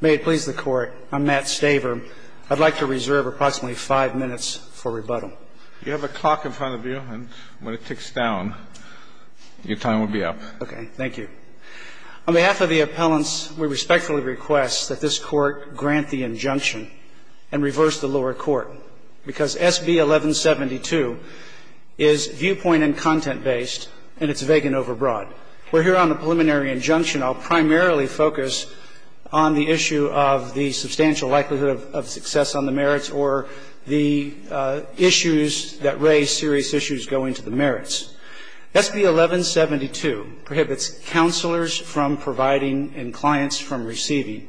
May it please the Court, I'm Matt Staver. I'd like to reserve approximately five minutes for rebuttal. You have a clock in front of you, and when it ticks down, your time will be up. Okay, thank you. On behalf of the appellants, we respectfully request that this Court grant the injunction and reverse the lower court, because SB 1172 is viewpoint and content-based, and it's vague and overbroad. We're here on a preliminary injunction. I'll primarily focus on the issue of the substantial likelihood of success on the merits or the issues that raise serious issues going to the merits. SB 1172 prohibits counselors from providing and clients from receiving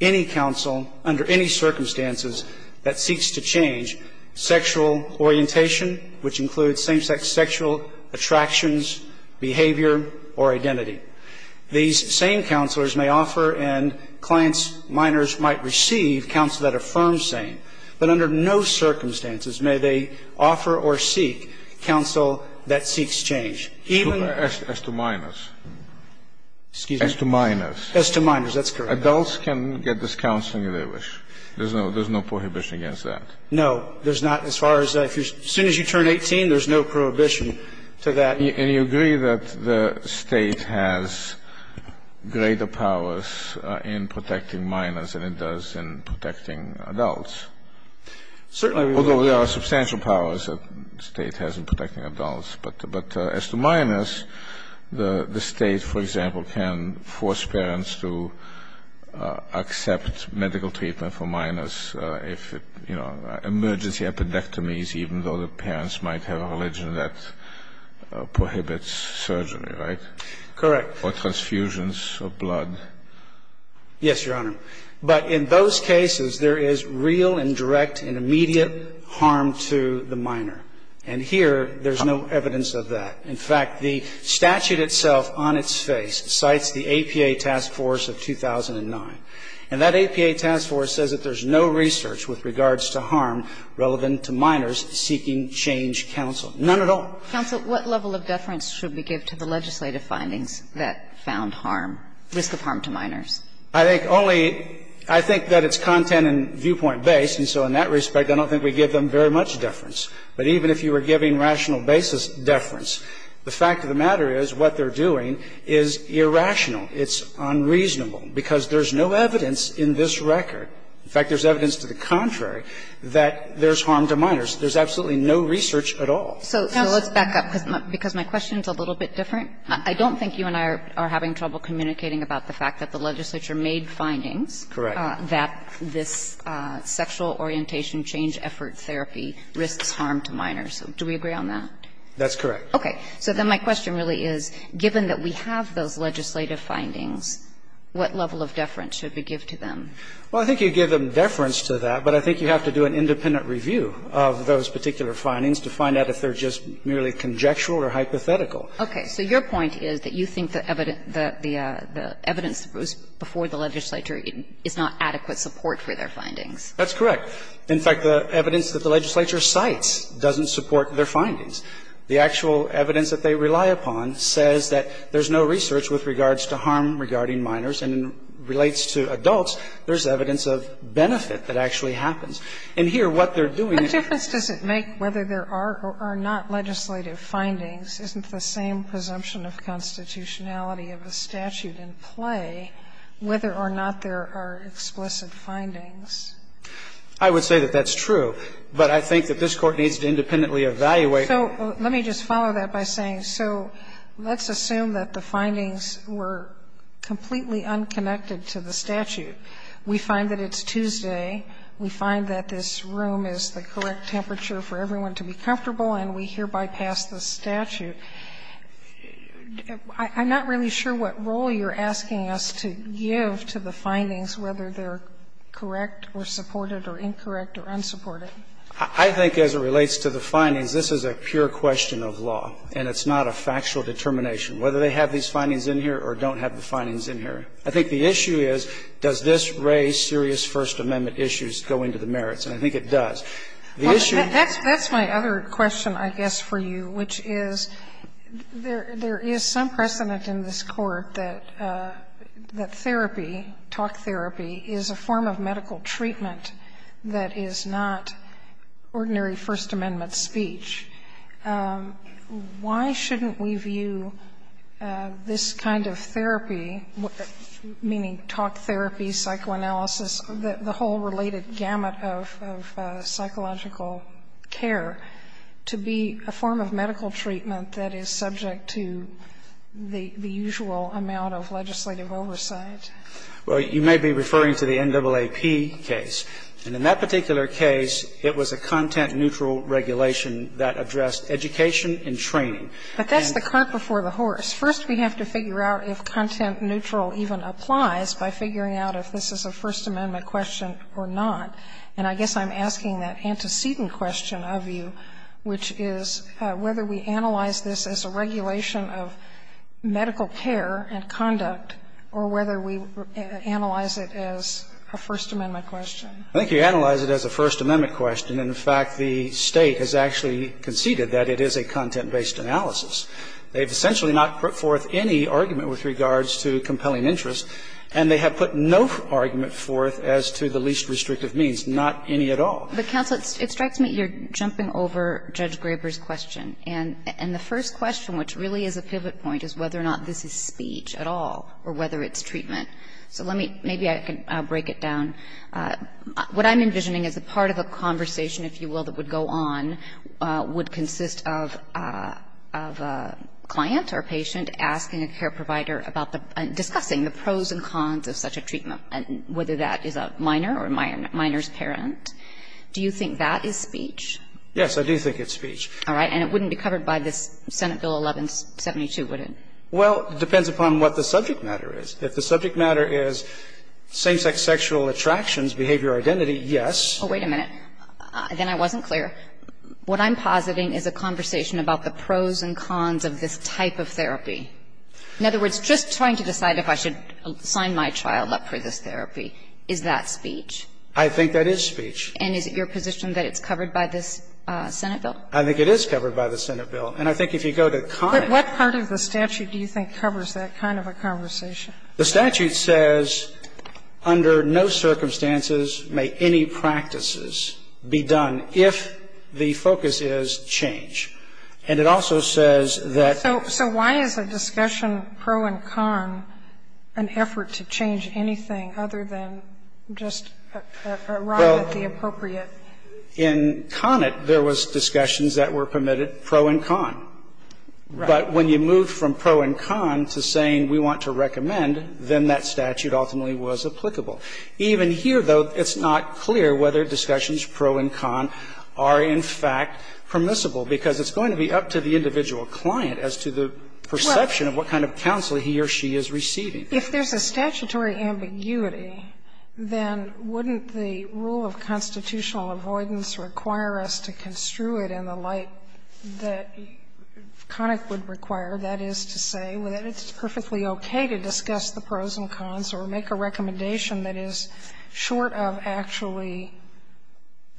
any counsel under any circumstances that seeks to change sexual orientation, which includes same-sex sexual attractions, behavior, or identity. These same counselors may offer and clients, minors, might receive counsel that affirms same, but under no circumstances may they offer or seek counsel that seeks change. Even as to minors. Excuse me. As to minors. As to minors, that's correct. Adults can get this counseling if they wish. There's no prohibition against that. No, there's not. As far as as soon as you turn 18, there's no prohibition to that. And you agree that the State has greater powers in protecting minors than it does in protecting adults. Certainly. Although there are substantial powers that the State has in protecting adults. But as to minors, the State, for example, can force parents to accept medical treatment for minors if, you know, emergency epidectomies, even though the parents might have a religion that prohibits surgery, right? Correct. Or transfusions of blood. Yes, Your Honor. But in those cases, there is real and direct and immediate harm to the minor. And here, there's no evidence of that. In fact, the statute itself on its face cites the APA Task Force of 2009. And that APA Task Force says that there's no research with regards to harm relevant to minors seeking change counsel. None at all. Counsel, what level of deference should we give to the legislative findings that found harm, risk of harm to minors? I think only – I think that it's content and viewpoint based, and so in that respect, I don't think we give them very much deference. But even if you were giving rational basis deference, the fact of the matter is what they're doing is irrational. It's unreasonable, because there's no evidence in this record. In fact, there's evidence to the contrary that there's harm to minors. There's absolutely no research at all. So let's back up, because my question is a little bit different. I don't think you and I are having trouble communicating about the fact that the legislature made findings that this sexual orientation change effort therapy risks harm to minors. Do we agree on that? That's correct. Okay. So then my question really is, given that we have those legislative findings, what level of deference should we give to them? Well, I think you give them deference to that, but I think you have to do an independent review of those particular findings to find out if they're just merely conjectural or hypothetical. Okay. So your point is that you think the evidence that was before the legislature is not adequate support for their findings. That's correct. In fact, the evidence that the legislature cites doesn't support their findings. The actual evidence that they rely upon says that there's no research with regards to harm regarding minors, and it relates to adults. There's evidence of benefit that actually happens. And here, what they're doing is the same. What difference does it make whether there are or are not legislative findings? Isn't the same presumption of constitutionality of a statute in play whether or not there are explicit findings? I would say that that's true. But I think that this Court needs to independently evaluate. So let me just follow that by saying, so let's assume that the findings were completely unconnected to the statute. We find that it's Tuesday. We find that this room is the correct temperature for everyone to be comfortable, and we hereby pass the statute. I'm not really sure what role you're asking us to give to the findings, whether they're correct or supported or incorrect or unsupported. I think as it relates to the findings, this is a pure question of law, and it's not a factual determination whether they have these findings in here or don't have the findings in here. I think the issue is, does this raise serious First Amendment issues going to the merits? And I think it does. The issue is that's my other question, I guess, for you, which is there is some precedent in this Court that therapy, talk therapy, is a form of medical treatment that is not subject to the usual amount of legislative oversight. Why shouldn't we view this kind of therapy, meaning talk therapy, psychoanalysis, the whole related gamut of psychological care, to be a form of medical treatment that is subject to the usual amount of legislative oversight? Well, you may be referring to the NAAP case. And in that particular case, it was a content-neutral regulation that addressed education and training. But that's the cart before the horse. First, we have to figure out if content-neutral even applies by figuring out if this is a First Amendment question or not. And I guess I'm asking that antecedent question of you, which is whether we analyze this as a regulation of medical care and conduct, or whether we analyze it as a First Amendment question. I think you analyze it as a First Amendment question. In fact, the State has actually conceded that it is a content-based analysis. They have essentially not put forth any argument with regards to compelling interest, and they have put no argument forth as to the least restrictive means, not any at all. But, counsel, it strikes me you're jumping over Judge Graber's question. And the first question, which really is a pivot point, is whether or not this is speech at all, or whether it's treatment. So let me – maybe I can break it down. What I'm envisioning is a part of a conversation, if you will, that would go on would consist of a client or patient asking a care provider about the – discussing the pros and cons of such a treatment, whether that is a minor or a minor's parent. Do you think that is speech? Yes, I do think it's speech. All right. And it wouldn't be covered by this Senate Bill 1172, would it? Well, it depends upon what the subject matter is. If the subject matter is same-sex sexual attractions, behavior, identity, yes. Oh, wait a minute. Then I wasn't clear. What I'm positing is a conversation about the pros and cons of this type of therapy. In other words, just trying to decide if I should sign my child up for this therapy, is that speech? I think that is speech. And is it your position that it's covered by this Senate bill? I think it is covered by the Senate bill. And I think if you go to Connett. But what part of the statute do you think covers that kind of a conversation? The statute says under no circumstances may any practices be done if the focus is change. And it also says that. So why is a discussion pro and con an effort to change anything other than just a riot the appropriate? In Connett, there was discussions that were permitted pro and con. But when you move from pro and con to saying we want to recommend, then that statute ultimately was applicable. Even here, though, it's not clear whether discussions pro and con are in fact permissible, because it's going to be up to the individual client as to the perception of what kind of counsel he or she is receiving. If there's a statutory ambiguity, then wouldn't the rule of constitutional avoidance require us to construe it in the light that Connett would require? That is to say, that it's perfectly okay to discuss the pros and cons or make a recommendation that is short of actually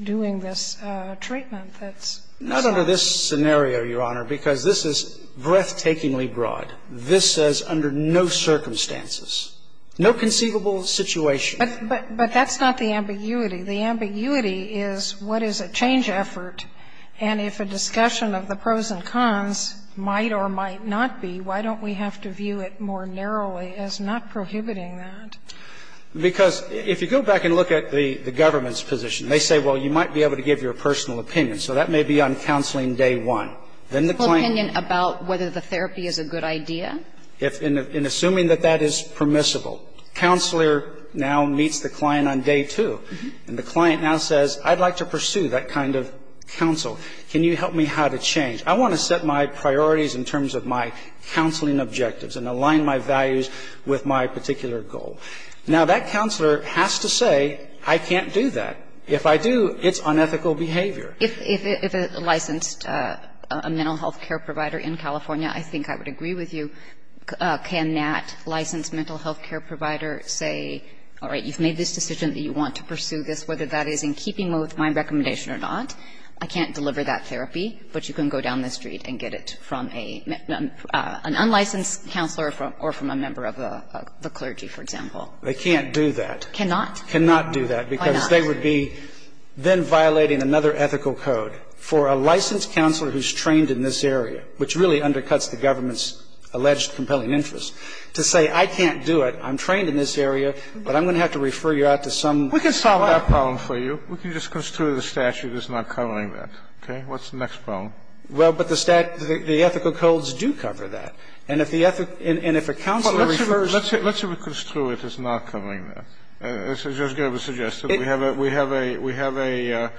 doing this treatment that's necessary? Not under this scenario, Your Honor, because this is breathtakingly broad. This says under no circumstances, no conceivable situation. But that's not the ambiguity. The ambiguity is what is a change effort, and if a discussion of the pros and cons might or might not be, why don't we have to view it more narrowly as not prohibiting that? Because if you go back and look at the government's position, they say, well, you might be able to give your personal opinion. So that may be on counseling day one. Then the claim can be made. And then there's a question about whether the therapy is a good idea. If in assuming that that is permissible, counselor now meets the client on day two. And the client now says, I'd like to pursue that kind of counsel. Can you help me how to change? I want to set my priorities in terms of my counseling objectives and align my values with my particular goal. Now, that counselor has to say, I can't do that. If I do, it's unethical behavior. If a licensed mental health care provider in California, I think I would agree with you, can that licensed mental health care provider say, all right, you've made this decision that you want to pursue this, whether that is in keeping with my recommendation or not, I can't deliver that therapy, but you can go down the street and get it from an unlicensed counselor or from a member of the clergy, for example. They can't do that. Cannot? Cannot do that. Why not? Why would they be then violating another ethical code for a licensed counselor who is trained in this area, which really undercuts the government's alleged compelling interest, to say, I can't do it, I'm trained in this area, but I'm going to have to refer you out to some other counselor? We can solve that problem for you. We can just construe the statute as not covering that. Okay? What's the next problem? Well, but the statute, the ethical codes do cover that. And if the ethic and if a counselor refers to the statute as not covering that. As Judge Gerber suggested, we have a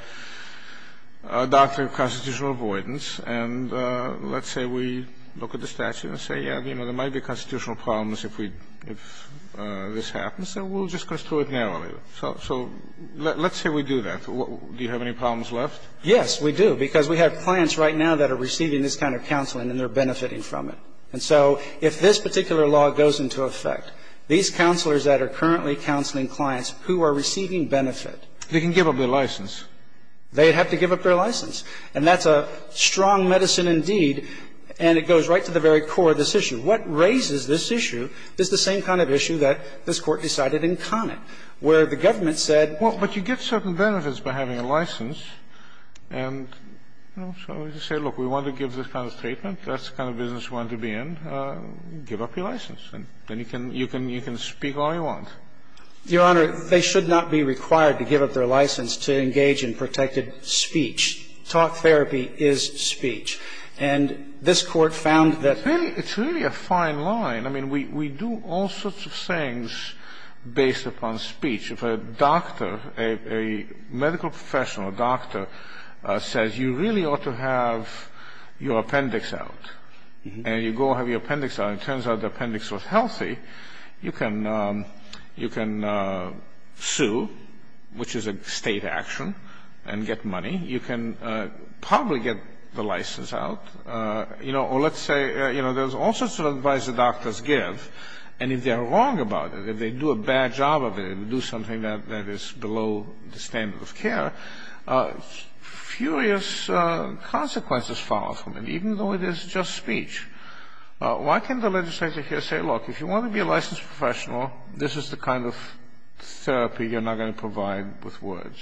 doctrine of constitutional avoidance. And let's say we look at the statute and say, yeah, you know, there might be constitutional problems if we, if this happens, and we'll just construe it narrowly. So let's say we do that. Do you have any problems left? Yes, we do, because we have clients right now that are receiving this kind of counseling and they're benefiting from it. And so if this particular law goes into effect, these counselors that are currently counseling clients who are receiving benefit. They can give up their license. They have to give up their license. And that's a strong medicine indeed. And it goes right to the very core of this issue. What raises this issue is the same kind of issue that this Court decided in Conant, where the government said. Well, but you get certain benefits by having a license. And, you know, so we just say, look, we want to give this kind of treatment. That's the kind of business we want to be in. Give up your license. And then you can speak all you want. Your Honor, they should not be required to give up their license to engage in protected speech. Talk therapy is speech. And this Court found that. It's really a fine line. I mean, we do all sorts of things based upon speech. If a doctor, a medical professional, a doctor, says you really ought to have your appendix out, and you go have your appendix out, and it turns out the appendix was healthy, you can sue, which is a state action, and get money. You can probably get the license out. You know, or let's say, you know, there's all sorts of advice that doctors give. And if they're wrong about it, if they do a bad job of it and do something that is below the standard of care, furious consequences follow from it, even though it is just speech. Why can't the legislature here say, look, if you want to be a licensed professional, this is the kind of therapy you're not going to provide with words?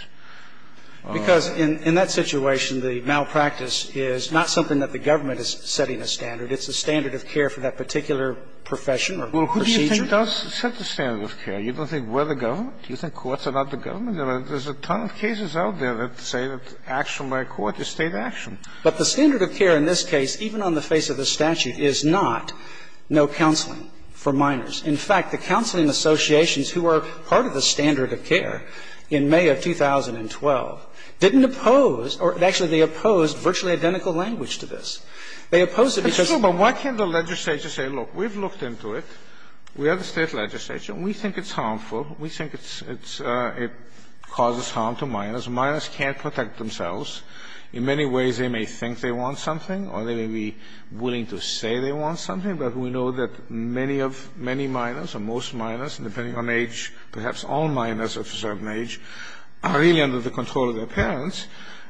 Because in that situation, the malpractice is not something that the government is setting a standard. It's a standard of care for that particular profession or procedure. Well, who do you think does set the standard of care? You don't think we're the government? Do you think courts are not the government? There's a ton of cases out there that say that action by a court is state action. But the standard of care in this case, even on the face of the statute, is not no counseling for minors. In fact, the counseling associations who are part of the standard of care in May of 2012 didn't oppose, or actually, they opposed virtually identical language to this. They opposed it because of the law. But why can't the legislature say, look, we've looked into it. We have the State legislation. We think it's harmful. We think it's – it causes harm to minors. Minors can't protect themselves. In many ways, they may think they want something or they may be willing to say they want something, but we know that many of – many minors or most minors, depending on age, perhaps all minors of a certain age, are really under the control of their parents,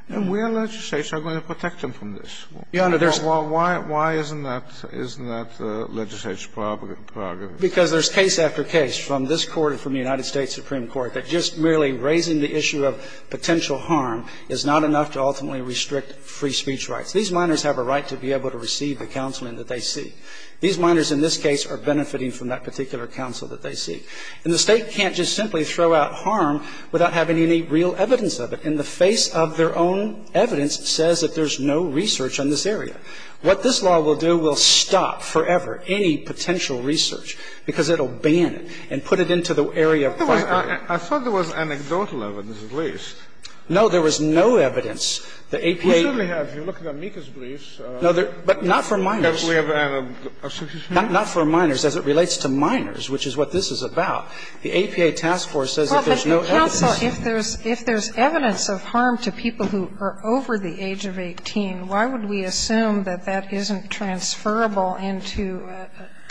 and we as legislature are going to protect them from this. Why isn't that legislature's prerogative? Because there's case after case from this Court and from the United States Supreme Court that just merely raising the issue of potential harm is not enough to ultimately restrict free speech rights. These minors have a right to be able to receive the counseling that they seek. These minors in this case are benefiting from that particular counsel that they seek. And the State can't just simply throw out harm without having any real evidence of it. In the face of their own evidence, it says that there's no research on this area. What this law will do, will stop forever any potential research, because it will ban it and put it into the area of question. I thought there was anecdotal evidence, at least. No, there was no evidence. The APA – We certainly have. You look at Amica's briefs. No, but not for minors. Not for minors, as it relates to minors, which is what this is about. The APA task force says that there's no evidence. Well, but counsel, if there's – if there's evidence of harm to people who are over the age of 18, why would we assume that that isn't transferable into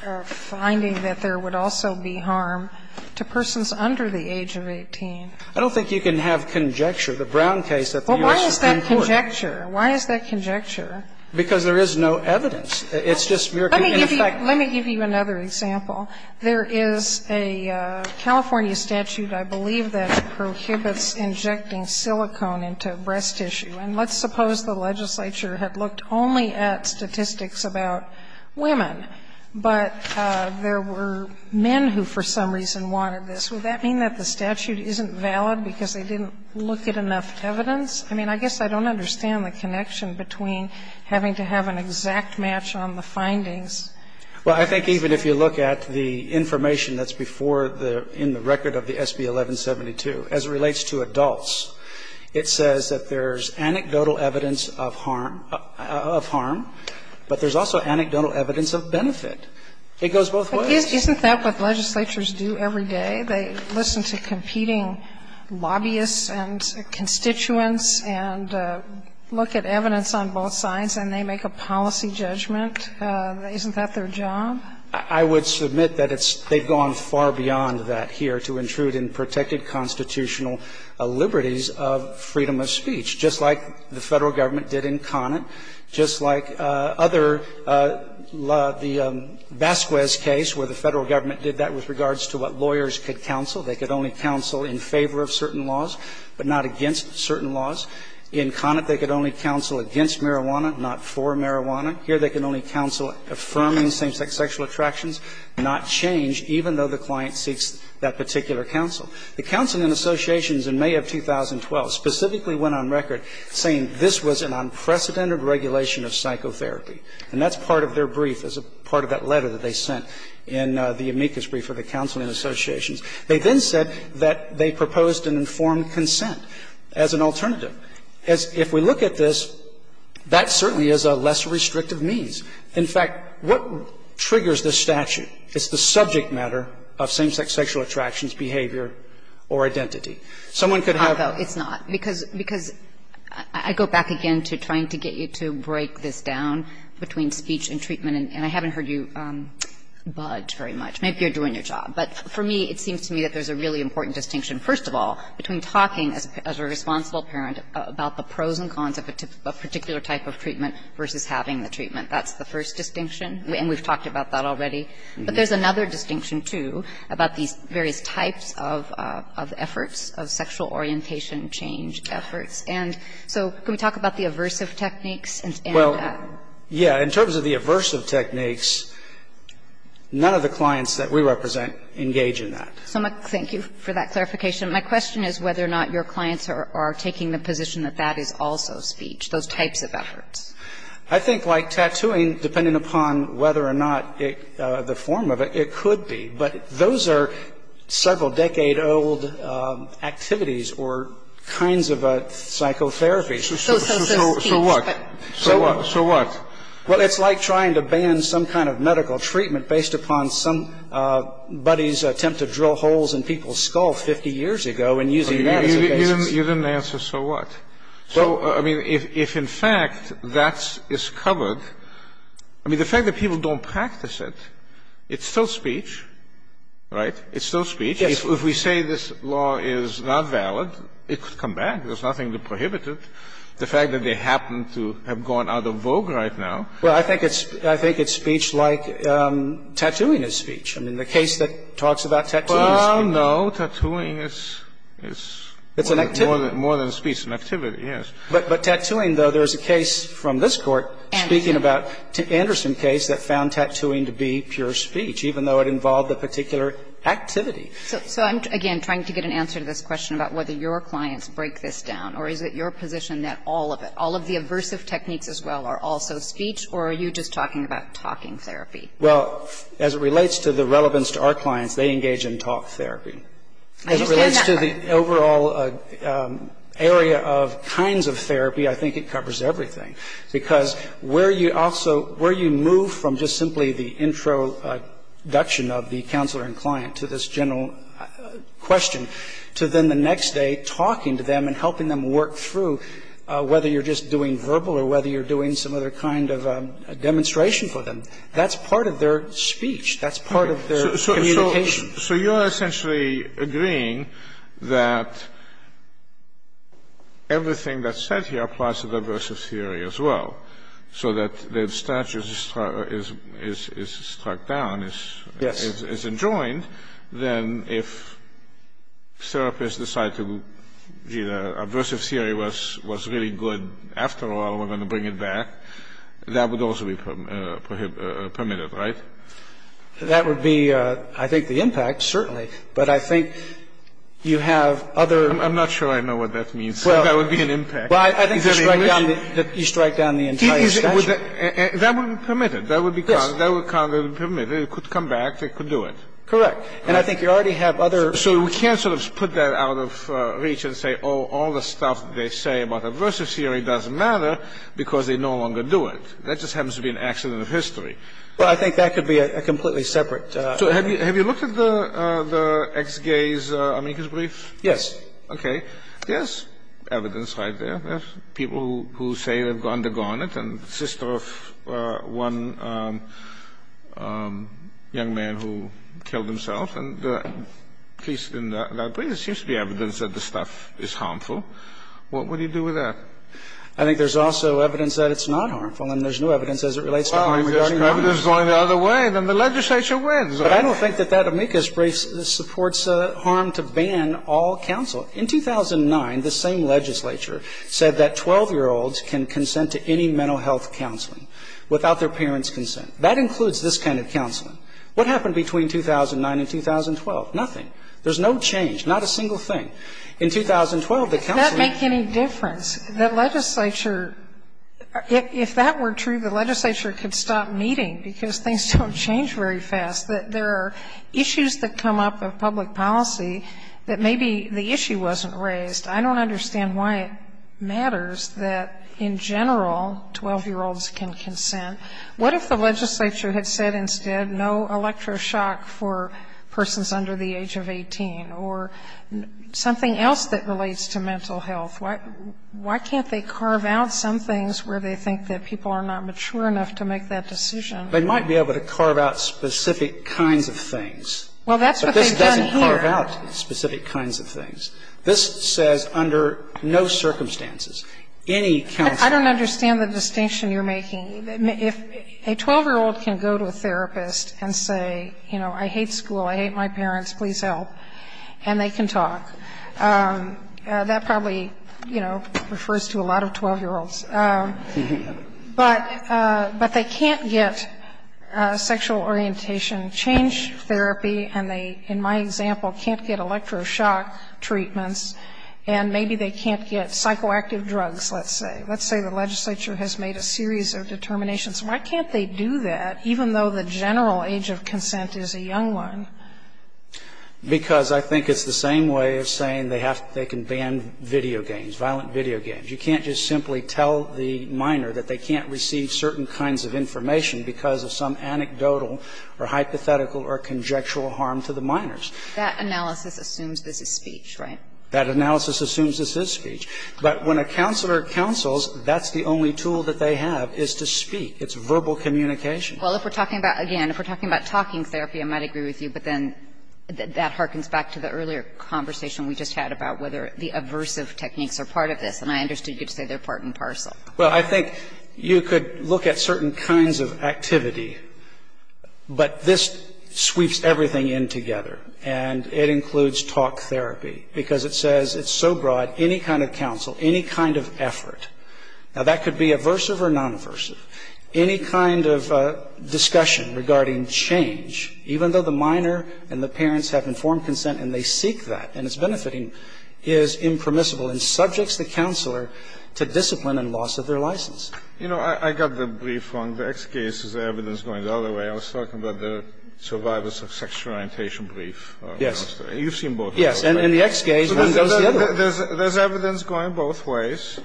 a finding that there would also be harm to persons under the age of 18? I don't think you can have conjecture. The Brown case at the U.S. Supreme Court. Well, why is that conjecture? Why is that conjecture? Because there is no evidence. It's just mere conjecture. Let me give you another example. There is a California statute, I believe, that prohibits injecting silicone into breast tissue. And let's suppose the legislature had looked only at statistics about women. But there were men who for some reason wanted this. Would that mean that the statute isn't valid because they didn't look at enough evidence? I mean, I guess I don't understand the connection between having to have an exact match on the findings. Well, I think even if you look at the information that's before the – in the record of the SB 1172, as it relates to adults, it says that there's anecdotal evidence of harm, but there's also anecdotal evidence of benefit. It goes both ways. Isn't that what legislatures do every day? They listen to competing lobbyists and constituents and look at evidence on both sides and they make a policy judgment? Isn't that their job? I would submit that it's – they've gone far beyond that here to intrude in protected constitutional liberties of freedom of speech. Just like the Federal Government did in Conant. Just like other – the Vasquez case where the Federal Government did that with regards to what lawyers could counsel. They could only counsel in favor of certain laws, but not against certain laws. In Conant, they could only counsel against marijuana, not for marijuana. Here they can only counsel affirming same-sex sexual attractions, not change, even though the client seeks that particular counsel. The Counseling Associations in May of 2012 specifically went on record saying this was an unprecedented regulation of psychotherapy. And that's part of their brief as a part of that letter that they sent in the amicus brief of the Counseling Associations. They then said that they proposed an informed consent as an alternative. If we look at this, that certainly is a lesser restrictive means. In fact, what triggers this statute? It's the subject matter of same-sex sexual attractions, behavior, or identity. Someone could have – It's not, because – because I go back again to trying to get you to break this down between speech and treatment. And I haven't heard you budge very much. Maybe you're doing your job. But for me, it seems to me that there's a really important distinction, first of all, between talking as a responsible parent about the pros and cons of a particular type of treatment versus having the treatment. That's the first distinction. And we've talked about that already. But there's another distinction, too, about these various types of efforts, of sexual orientation change efforts. And so can we talk about the aversive techniques and – Well, yeah. In terms of the aversive techniques, none of the clients that we represent engage in that. Thank you for that clarification. My question is whether or not your clients are taking the position that that is also speech, those types of efforts. I think, like, tattooing, depending upon whether or not the form of it, it could be. But those are several-decade-old activities or kinds of psychotherapy. So what? So what? Well, it's like trying to ban some kind of medical treatment based upon somebody's attempt to drill holes in people's skull 50 years ago and using that as a basis. You didn't answer, so what? So, I mean, if in fact that is covered, I mean, the fact that people don't practice it, it's still speech, right? It's still speech. Yes. If we say this law is not valid, it could come back. There's nothing to prohibit it. The fact that they happen to have gone out of vogue right now. Well, I think it's speech like tattooing is speech. I mean, the case that talks about tattooing is speech. Well, no. Tattooing is more than speech. It's an activity, yes. But tattooing, though, there's a case from this Court speaking about Anderson case that found tattooing to be pure speech, even though it involved a particular activity. So I'm, again, trying to get an answer to this question about whether your clients break this down, or is it your position that all of it, all of the aversive techniques as well are also speech, or are you just talking about talking therapy? Well, as it relates to the relevance to our clients, they engage in talk therapy. I understand that part. But as it relates to the overall area of kinds of therapy, I think it covers everything. Because where you also – where you move from just simply the introduction of the counselor and client to this general question, to then the next day talking to them and helping them work through whether you're just doing verbal or whether you're doing some other kind of demonstration for them, that's part of their speech. That's part of their communication. So you're essentially agreeing that everything that's said here applies to the aversive theory as well, so that the statue is struck down, is enjoined. Yes. Then if therapists decide, gee, the aversive theory was really good after all, we're going to bring it back, that would also be permitted, right? That would be, I think, the impact, certainly. But I think you have other – I'm not sure I know what that means. That would be an impact. Well, I think you strike down the entire statue. That would be permitted. That would be kind of permitted. It could come back. They could do it. Correct. And I think you already have other – So we can't sort of put that out of reach and say, oh, all the stuff they say about aversive theory doesn't matter because they no longer do it. That just happens to be an accident of history. Well, I think that could be a completely separate – So have you looked at the ex-gay's amicus brief? Yes. Okay. There's evidence right there. There's people who say they've undergone it and sister of one young man who killed himself. And at least in that brief, there seems to be evidence that the stuff is harmful. What would you do with that? I think there's also evidence that it's not harmful, and there's no evidence as it relates to harm reduction. Well, if there's evidence going the other way, then the legislature wins. But I don't think that that amicus brief supports harm to ban all counsel. In 2009, the same legislature said that 12-year-olds can consent to any mental health counseling without their parents' consent. That includes this kind of counseling. What happened between 2009 and 2012? Nothing. There's no change, not a single thing. In 2012, the counseling – Does that make any difference? That legislature – if that were true, the legislature could stop meeting, because things don't change very fast. There are issues that come up of public policy that maybe the issue wasn't raised. I don't understand why it matters that, in general, 12-year-olds can consent. What if the legislature had said instead no electroshock for persons under the age of 18 or something else that relates to mental health? Why can't they carve out some things where they think that people are not mature enough to make that decision? They might be able to carve out specific kinds of things. Well, that's what they've done here. But this doesn't carve out specific kinds of things. This says under no circumstances. Any counsel – I don't understand the distinction you're making. If a 12-year-old can go to a therapist and say, you know, I hate school, I hate my parents, please help, and they can talk. That probably, you know, refers to a lot of 12-year-olds. But they can't get sexual orientation change therapy, and they, in my example, can't get electroshock treatments, and maybe they can't get psychoactive drugs, let's say. Let's say the legislature has made a series of determinations. Why can't they do that, even though the general age of consent is a young one? Because I think it's the same way of saying they can ban video games, violent video games. You can't just simply tell the minor that they can't receive certain kinds of information because of some anecdotal or hypothetical or conjectural harm to the minors. That analysis assumes this is speech, right? That analysis assumes this is speech. But when a counselor counsels, that's the only tool that they have is to speak. It's verbal communication. Well, if we're talking about, again, if we're talking about talking therapy, I might agree with you, but then that harkens back to the earlier conversation we just had about whether the aversive techniques are part of this. And I understood you to say they're part and parcel. Well, I think you could look at certain kinds of activity, but this sweeps everything in together. And it includes talk therapy because it says it's so broad, any kind of counsel, any kind of effort. Now, that could be aversive or non-aversive. Any kind of discussion regarding change, even though the minor and the parents have informed consent and they seek that and it's benefiting, is impermissible and subjects the counselor to discipline and loss of their license. You know, I got the brief wrong. The X case is evidence going the other way. I was talking about the survivors of sexual orientation brief. Yes. You've seen both. Yes. And the X case goes the other way. There's evidence going both ways.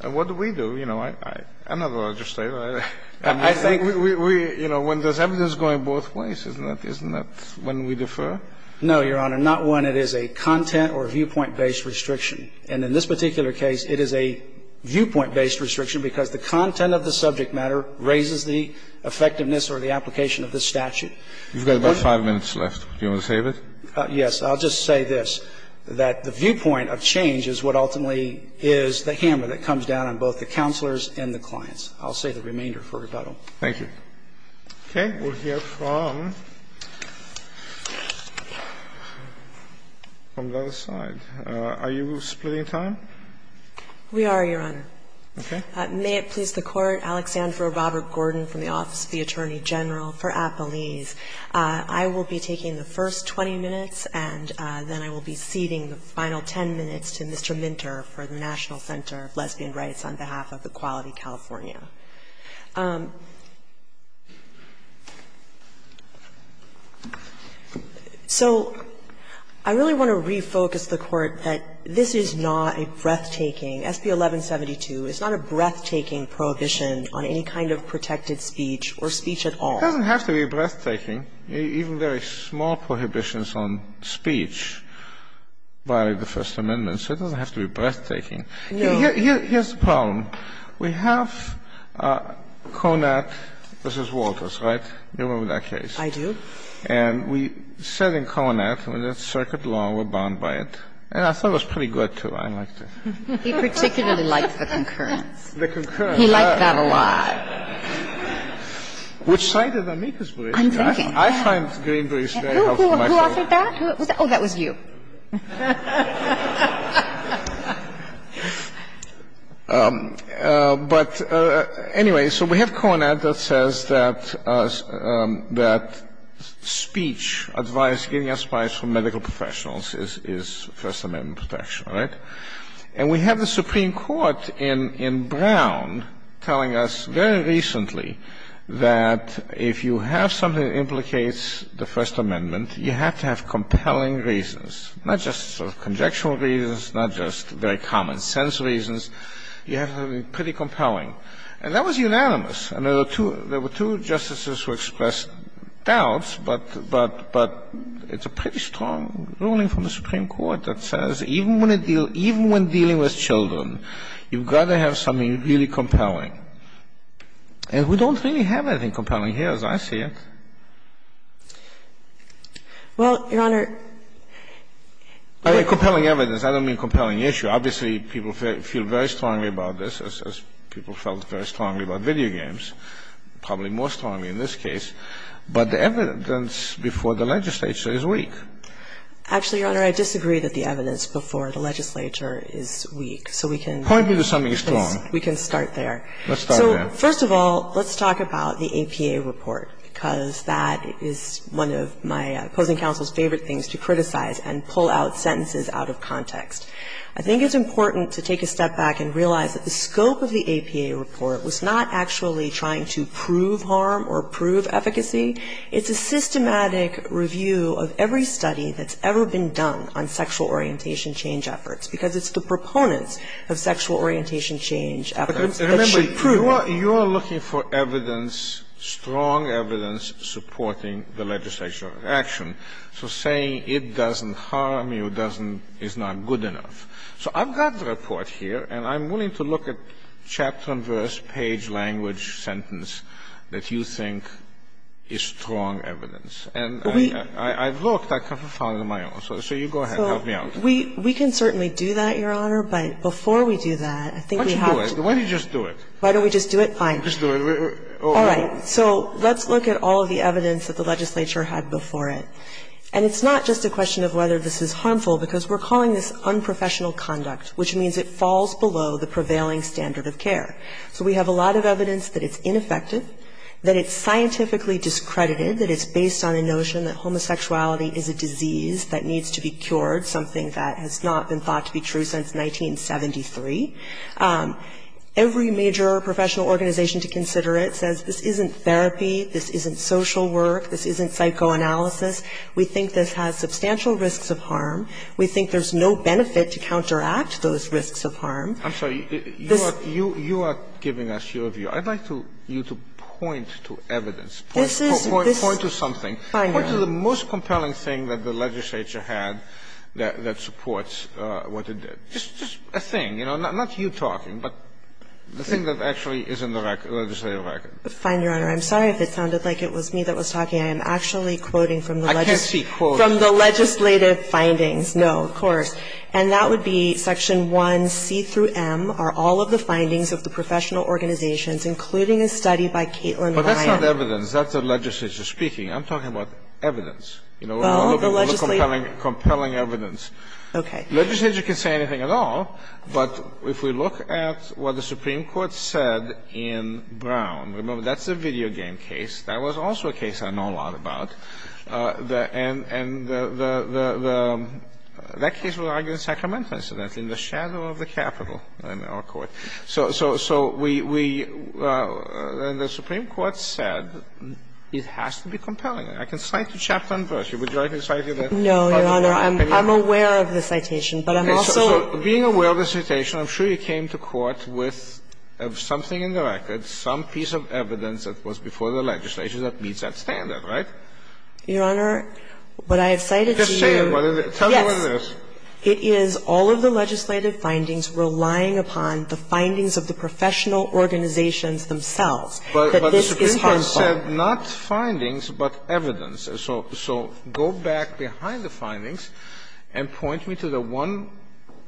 And what do we do? You know, I'm not going to just say that. I think we, you know, when there's evidence going both ways, isn't that when we defer? No, Your Honor. Not when it is a content or viewpoint-based restriction. And in this particular case, it is a viewpoint-based restriction because the content of the subject matter raises the effectiveness or the application of this statute. You've got about five minutes left. Do you want to save it? Yes. I'll just say this. That the viewpoint of change is what ultimately is the hammer that comes down on both the counselors and the clients. I'll save the remainder for rebuttal. Thank you. Okay. We'll hear from the other side. Are you splitting time? We are, Your Honor. Okay. May it please the Court, Alexandra Robert Gordon from the Office of the Attorney General for Appalese. I will be taking the first 20 minutes, and then I will be ceding the final 10 minutes to Mr. Minter for the National Center of Lesbian Rights on behalf of Equality California. So I really want to refocus the Court that this is not a breathtaking, SB 1172 is not a breathtaking prohibition on any kind of protected speech or speech at all. It doesn't have to be breathtaking. Even very small prohibitions on speech violate the First Amendment. So it doesn't have to be breathtaking. No. Here's the problem. We have CONAT. This is Walters, right? You remember that case? I do. And we said in CONAT, when it's circuit law, we're bound by it. And I thought it was pretty good, too. I liked it. He particularly liked the concurrence. The concurrence. He liked that a lot. Which side of the maker's bridge? I'm thinking. I find Green Bridge very helpful myself. Who offered that? Oh, that was you. But anyway, so we have CONAT that says that speech advice, getting advice from medical professionals is First Amendment protection, right? And we have the Supreme Court in Brown telling us very recently that if you have something that implicates the First Amendment, you have to have compelling reasons, not just sort of conjectural reasons, not just very common sense reasons. You have to have something pretty compelling. And that was unanimous. And there were two justices who expressed doubts, but it's a pretty strong ruling from the Supreme Court that says even when dealing with children, you've got to have something really compelling. And we don't really have anything compelling here, as I see it. Well, Your Honor. I mean, compelling evidence. I don't mean compelling issue. Obviously, people feel very strongly about this, as people felt very strongly about video games, probably more strongly in this case. But the evidence before the legislature is weak. Actually, Your Honor, I disagree that the evidence before the legislature is weak. So we can start there. Point me to something strong. Let's start there. So first of all, let's talk about the APA report, because that is one of my opposing counsel's favorite things, to criticize and pull out sentences out of context. I think it's important to take a step back and realize that the scope of the APA report was not actually trying to prove harm or prove efficacy. It's a systematic review of every study that's ever been done on sexual orientation change efforts, because it's the proponents of sexual orientation change efforts that should prove it. Remember, you are looking for evidence, strong evidence, supporting the legislative action. So saying it doesn't harm you doesn't – is not good enough. So I've got the report here, and I'm willing to look at chapter and verse, page, language, sentence, that you think is strong evidence. And I've looked. I can't find it on my own. So you go ahead. Help me out. We can certainly do that, Your Honor. But before we do that, I think we have to – Why don't you just do it? Why don't we just do it? Fine. Just do it. All right. So let's look at all of the evidence that the legislature had before it. And it's not just a question of whether this is harmful, because we're calling this unprofessional conduct, which means it falls below the prevailing standard of care. So we have a lot of evidence that it's ineffective, that it's scientifically discredited, that it's based on a notion that homosexuality is a disease that needs to be cured, something that has not been thought to be true since 1973. Every major professional organization to consider it says this isn't therapy, this isn't social work, this isn't psychoanalysis. We think this has substantial risks of harm. I'm sorry. You are giving us your view. I'd like you to point to evidence. Point to something. Fine, Your Honor. Point to the most compelling thing that the legislature had that supports what it did. Just a thing. Not you talking, but the thing that actually is in the legislative record. Fine, Your Honor. I'm sorry if it sounded like it was me that was talking. I am actually quoting from the legislative findings. I can't see quotes. No, of course. And that would be Section 1C through M are all of the findings of the professional organizations, including a study by Caitlin Ryan. But that's not evidence. That's the legislature speaking. I'm talking about evidence. Well, the legislature. We're looking for compelling evidence. Okay. The legislature can say anything at all, but if we look at what the Supreme Court said in Brown, remember, that's a video game case. That was also a case I know a lot about. And that case was argued in Sacramento, incidentally, in the shadow of the Capitol in our court. So we – and the Supreme Court said it has to be compelling. I can cite a chapter and verse. Would you like me to cite it? No, Your Honor. I'm aware of the citation, but I'm also – Okay. So being aware of the citation, I'm sure you came to court with something in the record, some piece of evidence that was before the legislature that meets that standard, right? Your Honor, what I have cited to you – Just say it. Tell me what it is. Yes. It is all of the legislative findings relying upon the findings of the professional organizations themselves that this is harmful. But the Supreme Court said not findings, but evidence. So go back behind the findings and point me to the one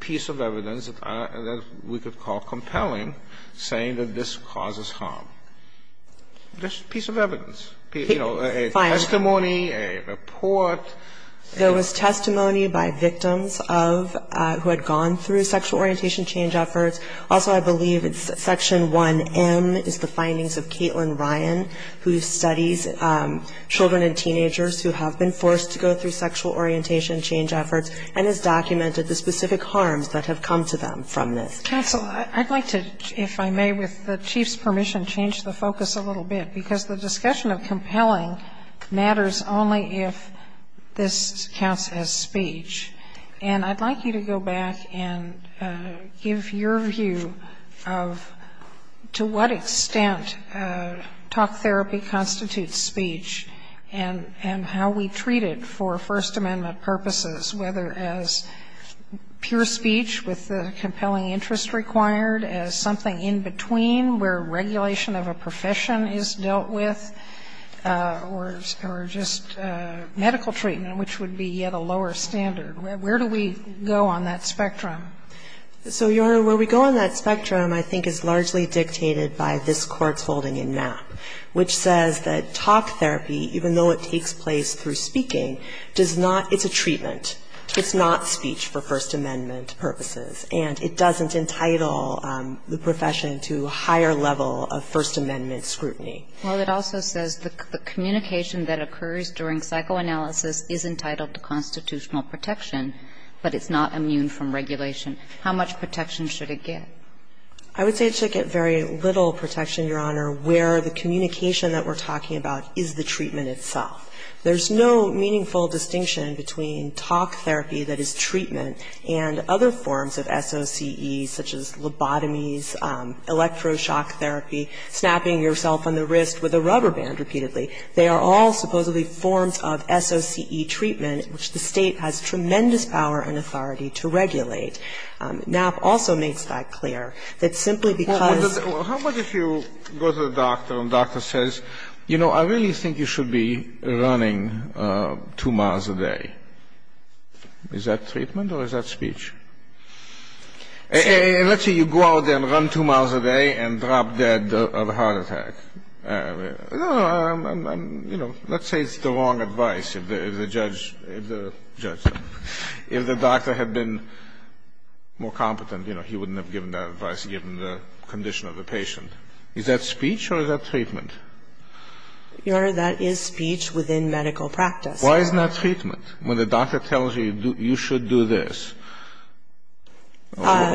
piece of evidence that we could call compelling, saying that this causes harm. Just a piece of evidence. You know, a testimony, a report. There was testimony by victims of – who had gone through sexual orientation change efforts. Also, I believe it's Section 1M is the findings of Caitlin Ryan, who studies children and teenagers who have been forced to go through sexual orientation change efforts and has documented the specific harms that have come to them from this. Counsel, I'd like to, if I may, with the Chief's permission, change the focus a little bit, because the discussion of compelling matters only if this counts as speech. And I'd like you to go back and give your view of to what extent talk therapy constitutes speech and how we treat it for First Amendment purposes, whether as pure speech with the compelling interest required, as something in between where regulation of a profession is dealt with, or just medical treatment, which would be yet a lower standard. Where do we go on that spectrum? So, Your Honor, where we go on that spectrum, I think, is largely dictated by this Court's holding in Mapp, which says that talk therapy, even though it takes place through speaking, does not – it's a treatment. It's not speech for First Amendment purposes, and it doesn't entitle the profession to a higher level of First Amendment scrutiny. Well, it also says the communication that occurs during psychoanalysis is entitled to constitutional protection, but it's not immune from regulation. How much protection should it get? I would say it should get very little protection, Your Honor, where the communication that we're talking about is the treatment itself. There's no meaningful distinction between talk therapy that is treatment and other forms of SOCE, such as lobotomies, electroshock therapy, snapping yourself on the wrist with a rubber band repeatedly. They are all supposedly forms of SOCE treatment, which the State has tremendous power and authority to regulate. Mapp also makes that clear, that simply because – Well, how about if you go to the doctor and the doctor says, you know, I really think you should be running 2 miles a day. Is that treatment or is that speech? Let's say you go out there and run 2 miles a day and drop dead of a heart attack. No, I'm, you know, let's say it's the wrong advice if the judge, if the doctor had been more competent, you know, he wouldn't have given that advice given the condition of the patient. Is that speech or is that treatment? Your Honor, that is speech within medical practice. Why isn't that treatment? When the doctor tells you you should do this, why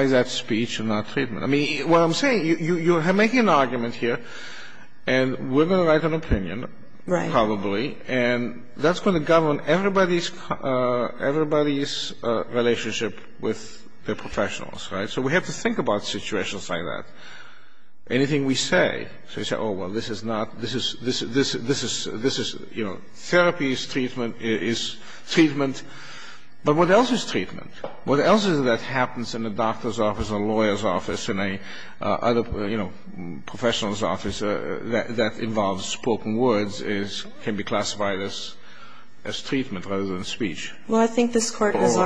is that speech and not treatment? I mean, what I'm saying, you're making an argument here and we're going to write an opinion, probably, and that's going to govern everybody's relationship with their professionals, right? So we have to think about situations like that. Anything we say, so you say, oh, well, this is not, this is, this is, this is, this is, you know, therapy is treatment, is treatment. But what else is treatment? What else is it that happens in a doctor's office, a lawyer's office, in a other, you know, professional's office that involves spoken words can be classified as treatment rather than speech? Well, I think this Court has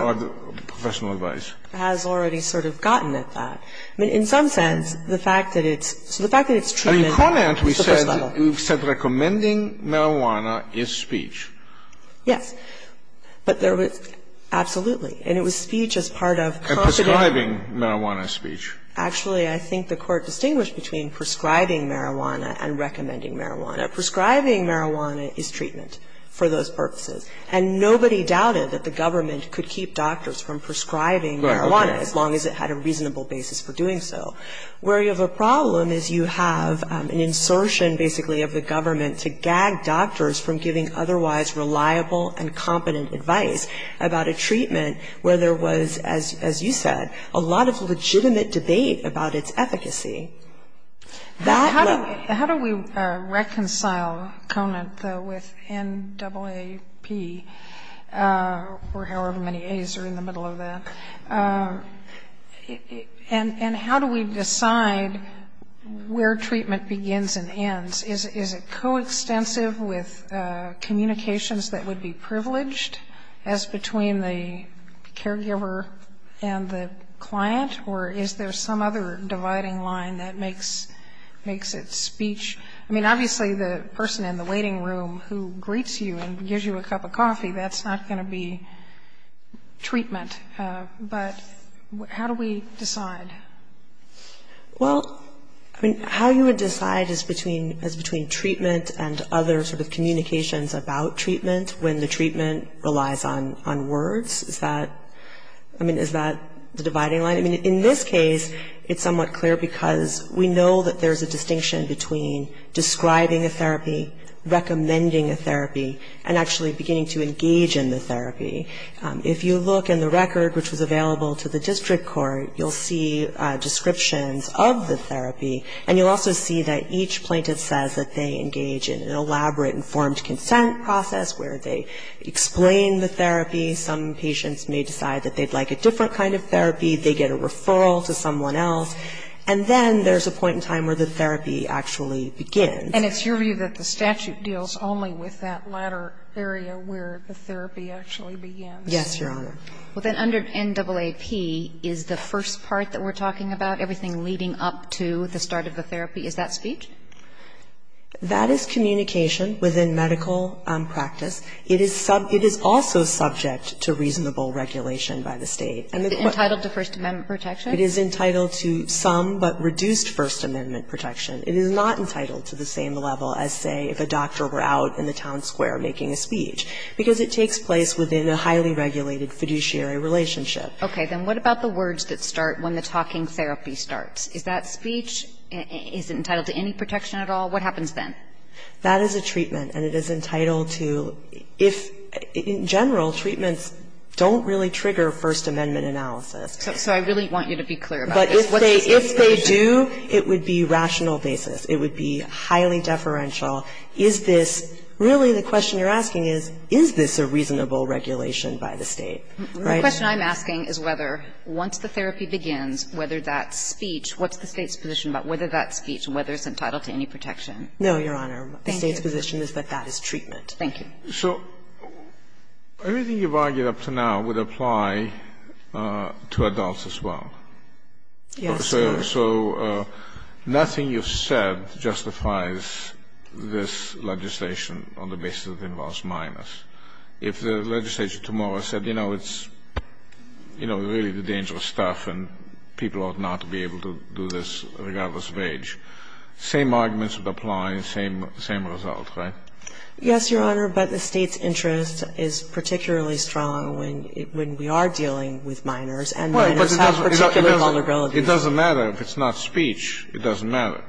already sort of gotten at that. I mean, in some sense, the fact that it's, so the fact that it's treatment is the first level. And in comment we said, we've said recommending marijuana is speech. Yes. But there was, absolutely. And it was speech as part of confidentiality. And prescribing marijuana is speech. Actually, I think the Court distinguished between prescribing marijuana and recommending marijuana. Prescribing marijuana is treatment for those purposes. And nobody doubted that the government could keep doctors from prescribing marijuana, as long as it had a reasonable basis for doing so. Where you have a problem is you have an insertion, basically, of the government to gag doctors from giving otherwise reliable and competent advice about a treatment where there was, as you said, a lot of legitimate debate about its efficacy. That led to. How do we reconcile Conant, though, with NAAP, or however many A's are in the middle of that? And how do we decide where treatment begins and ends? Is it coextensive with communications that would be privileged as between the caregiver and the client? Or is there some other dividing line that makes it speech? I mean, obviously, the person in the waiting room who greets you and gives you a cup of coffee, that's not going to be treatment. But how do we decide? Well, I mean, how you would decide is between treatment and other sort of communications about treatment when the treatment relies on words. Is that, I mean, is that the dividing line? I mean, in this case, it's somewhat clear because we know that there's a distinction between describing a therapy, recommending a therapy, and actually beginning to engage in the therapy. If you look in the record, which was available to the district court, you'll see descriptions of the therapy. And you'll also see that each plaintiff says that they engage in an elaborate informed consent process where they explain the therapy. Some patients may decide that they'd like a different kind of therapy. They get a referral to someone else. And then there's a point in time where the therapy actually begins. And it's your view that the statute deals only with that latter area where the therapy actually begins? Yes, Your Honor. Well, then under NAAP, is the first part that we're talking about, everything leading up to the start of the therapy, is that speech? That is communication within medical practice. It is also subject to reasonable regulation by the State. Is it entitled to First Amendment protection? It is entitled to some but reduced First Amendment protection. It is not entitled to the same level as, say, if a doctor were out in the town square making a speech, because it takes place within a highly regulated fiduciary relationship. Okay. Then what about the words that start when the talking therapy starts? Is that speech? Is it entitled to any protection at all? What happens then? That is a treatment. And it is entitled to, if, in general, treatments don't really trigger First Amendment analysis. So I really want you to be clear about this. What's the situation? But if they do, it would be rational basis. It would be highly deferential. Is this really the question you're asking is, is this a reasonable regulation by the State, right? The question I'm asking is whether, once the therapy begins, whether that speech what's the State's position about whether that speech, whether it's entitled to any protection? No, Your Honor. Thank you. The State's position is that that is treatment. Thank you. So everything you've argued up to now would apply to adults as well. Yes. So nothing you've said justifies this legislation on the basis that it involves minors. If the legislature tomorrow said, you know, it's, you know, really the dangerous stuff and people ought not to be able to do this regardless of age, same arguments would apply, same result, right? Yes, Your Honor. But the State's interest is particularly strong when we are dealing with minors and minors have particular vulnerabilities. It doesn't matter if it's not speech. It doesn't matter.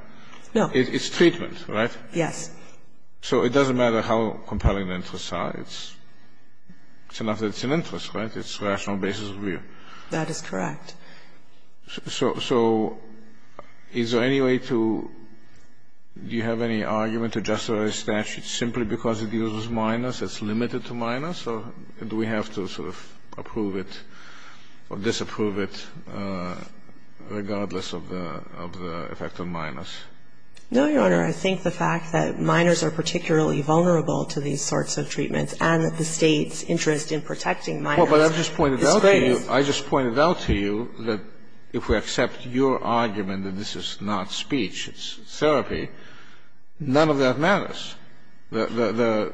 No. It's treatment, right? Yes. So it doesn't matter how compelling the interests are. It's enough that it's an interest, right? It's a rational basis of view. That is correct. So is there any way to do you have any argument to justify the statute simply because it uses minors, it's limited to minors? Or do we have to sort of approve it or disapprove it regardless of the effect on minors? No, Your Honor. I think the fact that minors are particularly vulnerable to these sorts of treatments and that the State's interest in protecting minors is great. But I just pointed out to you that if we accept your argument that this is not speech, it's therapy, none of that matters. The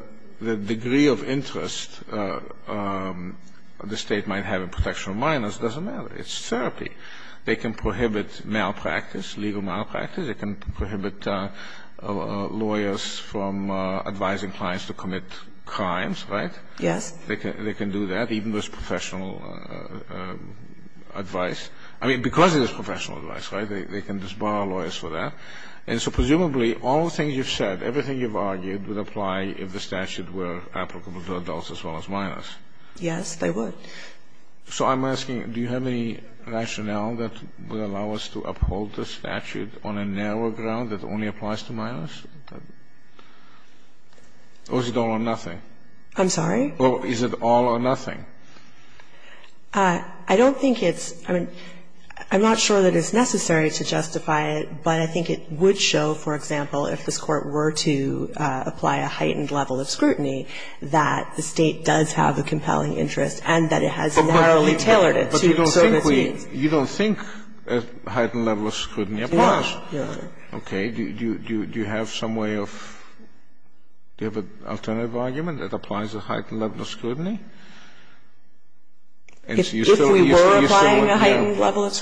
degree of interest the State might have in protection of minors doesn't matter. It's therapy. They can prohibit malpractice, legal malpractice. They can prohibit lawyers from advising clients to commit crimes, right? Yes. They can do that, even with professional advice. I mean, because it is professional advice, right? They can disbar lawyers for that. And so presumably all the things you've said, everything you've argued would apply if the statute were applicable to adults as well as minors. Yes, they would. So I'm asking, do you have any rationale that would allow us to uphold the statute on a narrower ground that only applies to minors? Or is it all or nothing? I'm sorry? Or is it all or nothing? I don't think it's – I mean, I'm not sure that it's necessary to justify it, but I think it would show, for example, if this Court were to apply a heightened level of scrutiny that the State does have a compelling interest and that it has narrowly tailored it to certain needs. But you don't think we – you don't think a heightened level of scrutiny applies? No. Okay. If we were applying a heightened level of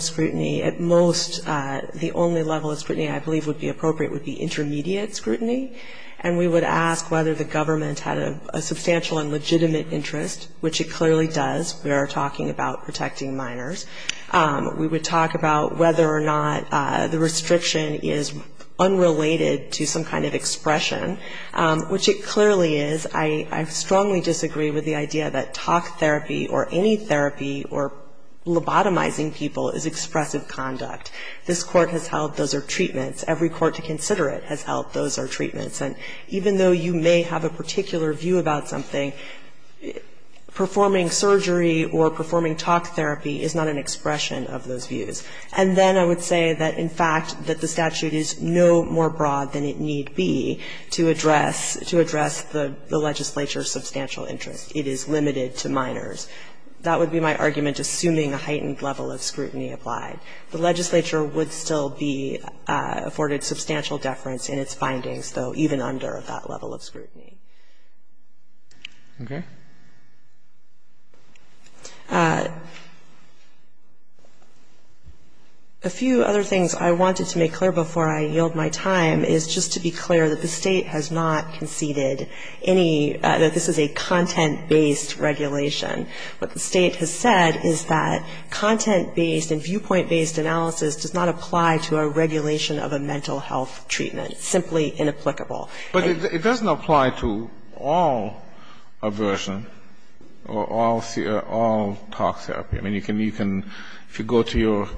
scrutiny, at most the only level of scrutiny I believe would be appropriate would be intermediate scrutiny. And we would ask whether the government had a substantial and legitimate interest, which it clearly does. We are talking about protecting minors. We would talk about whether or not the restriction is unrelated to some kind of expression. Which it clearly is. I strongly disagree with the idea that talk therapy or any therapy or lobotomizing people is expressive conduct. This Court has held those are treatments. Every court to consider it has held those are treatments. And even though you may have a particular view about something, performing surgery or performing talk therapy is not an expression of those views. And then I would say that, in fact, that the statute is no more broad than it need be to address the legislature's substantial interest. It is limited to minors. That would be my argument, assuming a heightened level of scrutiny applied. The legislature would still be afforded substantial deference in its findings, though, even under that level of scrutiny. Okay. A few other things I wanted to make clear before I yield my time is just to be clear that the State has not conceded any, that this is a content-based regulation. What the State has said is that content-based and viewpoint-based analysis does not apply to a regulation of a mental health treatment. It's simply inapplicable. But it doesn't apply to all aversion or all talk therapy. I mean, you can, if you go to your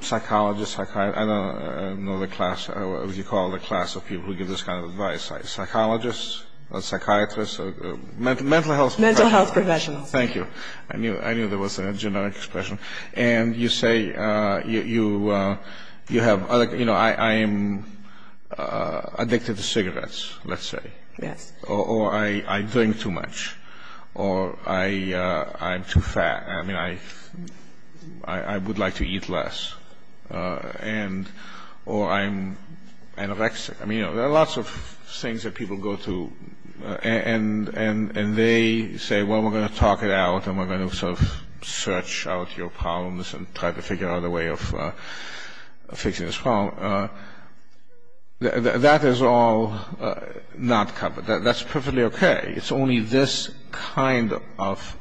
psychologist, I don't know the class, what do you call the class of people who give this kind of advice? Psychologists or psychiatrists or mental health professionals? Mental health professionals. Thank you. I knew there was a generic expression. And you say, you know, I am addicted to cigarettes, let's say. Yes. Or I drink too much. Or I'm too fat. I mean, I would like to eat less. And, or I'm anorexic. I mean, you know, there are lots of things that people go through. And they say, well, we're going to talk it out and we're going to sort of search out your problems and try to figure out a way of fixing this problem. Now, that is all not covered. That's perfectly okay. It's only this kind of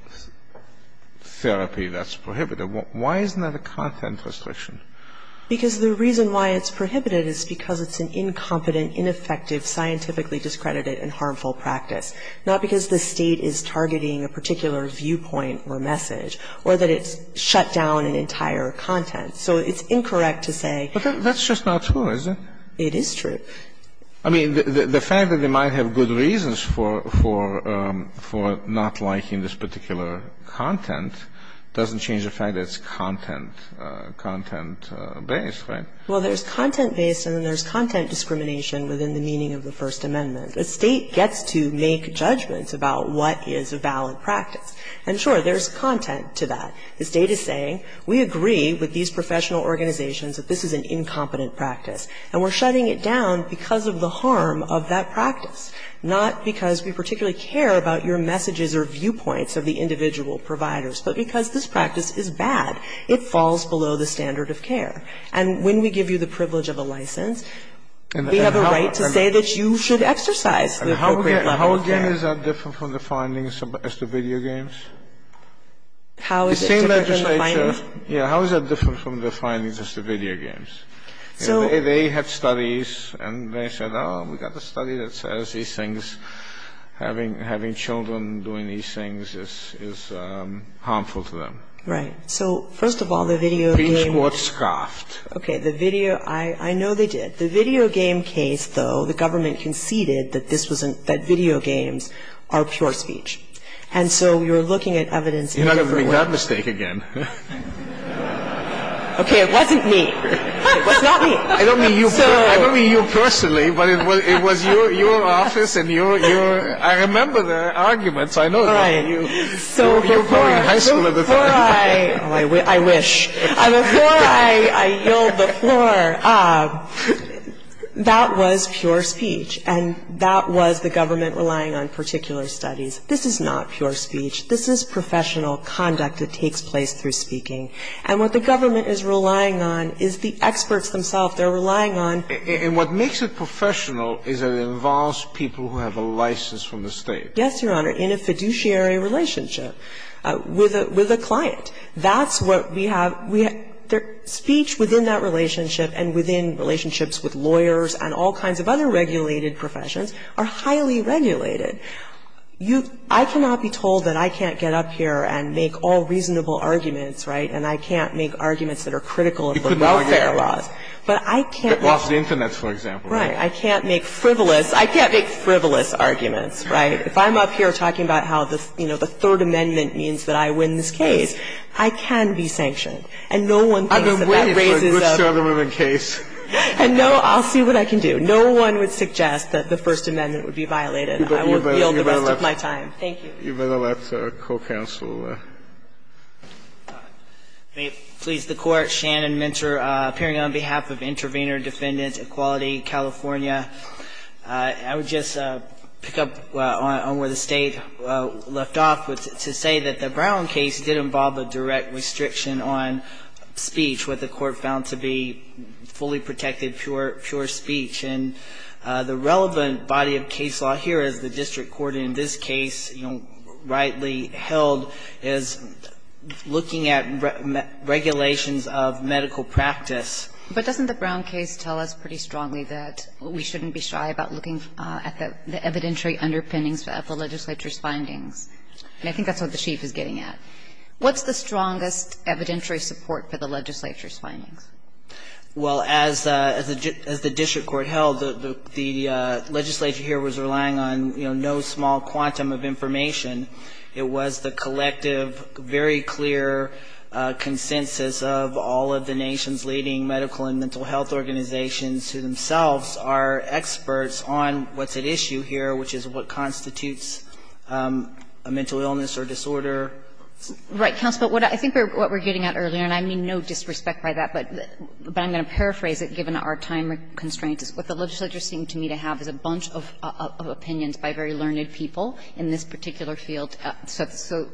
therapy that's prohibited. Why isn't that a content restriction? Because the reason why it's prohibited is because it's an incompetent, ineffective, scientifically discredited and harmful practice, not because the State is targeting a particular viewpoint or message or that it's shut down an entire content. So it's incorrect to say. But that's just not true, is it? It is true. I mean, the fact that they might have good reasons for not liking this particular content doesn't change the fact that it's content, content-based, right? Well, there's content-based and then there's content discrimination within the meaning of the First Amendment. The State gets to make judgments about what is a valid practice. And, sure, there's content to that. The State is saying, we agree with these professional organizations that this is an incompetent practice. And we're shutting it down because of the harm of that practice, not because we particularly care about your messages or viewpoints of the individual providers, but because this practice is bad. It falls below the standard of care. And when we give you the privilege of a license, we have a right to say that you should exercise the appropriate level of care. Sotomayor, how is that different from the findings as to video games? How is it different from the findings? Yeah. How is that different from the findings as to video games? They had studies and they said, oh, we've got a study that says these things, having children doing these things is harmful to them. Right. So, first of all, the video games. Okay. The video, I know they did. The video game case, though, the government conceded that video games are pure speech. And so we were looking at evidence in a different way. You're not going to make that mistake again. Okay. It wasn't me. It was not me. I don't mean you personally, but it was your office and your, I remember the arguments. I know that. All right. So, before I, oh, I wish. Before I yield the floor, that was pure speech and that was the government relying on particular studies. This is not pure speech. This is professional conduct that takes place through speaking. And what the government is relying on is the experts themselves. They're relying on. And what makes it professional is it involves people who have a license from the State. Yes, Your Honor, in a fiduciary relationship with a client. That's what we have. We have speech within that relationship and within relationships with lawyers and all kinds of other regulated professions are highly regulated. I cannot be told that I can't get up here and make all reasonable arguments, right, and I can't make arguments that are critical of the welfare laws. But I can't make. The Internet, for example. Right. I can't make frivolous. I can't make frivolous arguments, right. If I'm up here talking about how the, you know, the Third Amendment means that I win this case, I can be sanctioned. And no one thinks that that raises a. I've been waiting for a good Southern woman case. And no, I'll see what I can do. No one would suggest that the First Amendment would be violated. I will yield the rest of my time. Thank you. You'd better let our co-counsel. May it please the Court. Shannon Minter appearing on behalf of Intervenor Defendant Equality California. I would just pick up on where the State left off to say that the Brown case did involve a direct restriction on speech, what the Court found to be fully protected pure speech. And the relevant body of case law here is the district court in this case, you know, rightly held as looking at regulations of medical practice. But doesn't the Brown case tell us pretty strongly that we shouldn't be shy about looking at the evidentiary underpinnings of the legislature's findings? And I think that's what the Chief is getting at. What's the strongest evidentiary support for the legislature's findings? Well, as the district court held, the legislature here was relying on, you know, no small quantum of information. It was the collective, very clear consensus of all of the nation's leading medical and mental health organizations who themselves are experts on what's at issue here, which is what constitutes a mental illness or disorder. Right. Counsel, but I think what we're getting at earlier, and I mean no disrespect by that, but I'm going to paraphrase it given our time constraints, is what the legislature seemed to me to have is a bunch of opinions by very learned people in this particular field. So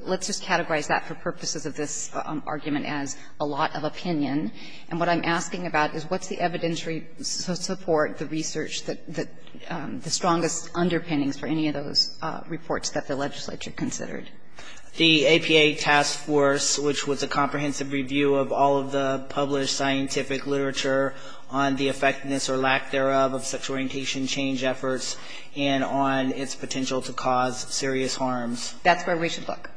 let's just categorize that for purposes of this argument as a lot of opinion. And what I'm asking about is what's the evidentiary support, the research, the strongest underpinnings for any of those reports that the legislature considered? The APA task force, which was a comprehensive review of all of the published scientific literature on the effectiveness or lack thereof of sexual orientation change efforts and on its potential to cause serious harms. That's where we should look.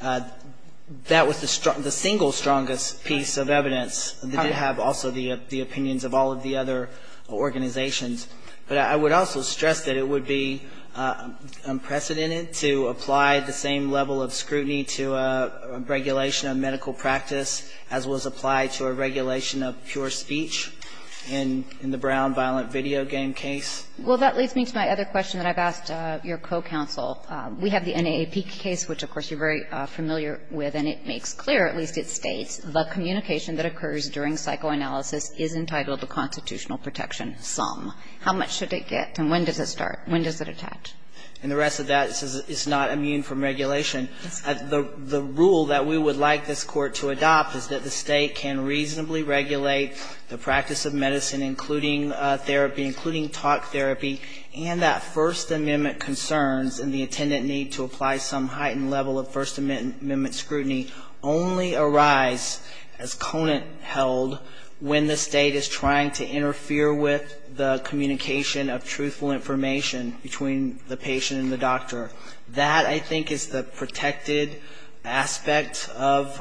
That was the single strongest piece of evidence that did have also the opinions of all of the other organizations. But I would also stress that it would be unprecedented to apply the same level of scrutiny to a regulation of medical practice as was applied to a regulation of pure speech in the Brown violent video game case. Well, that leads me to my other question that I've asked your co-counsel. We have the NAAP case, which, of course, you're very familiar with, and it makes clear, at least it states, the communication that occurs during psychoanalysis is entitled to constitutional protection sum. How much should it get and when does it start? When does it attach? And the rest of that says it's not immune from regulation. The rule that we would like this Court to adopt is that the State can reasonably regulate the practice of medicine, including therapy, including talk therapy, and that First Amendment concerns and the attendant need to apply some heightened level of First Amendment scrutiny only arise as conant held when the State is trying to interfere with the communication of truthful information between the patient and the doctor. That, I think, is the protected aspect of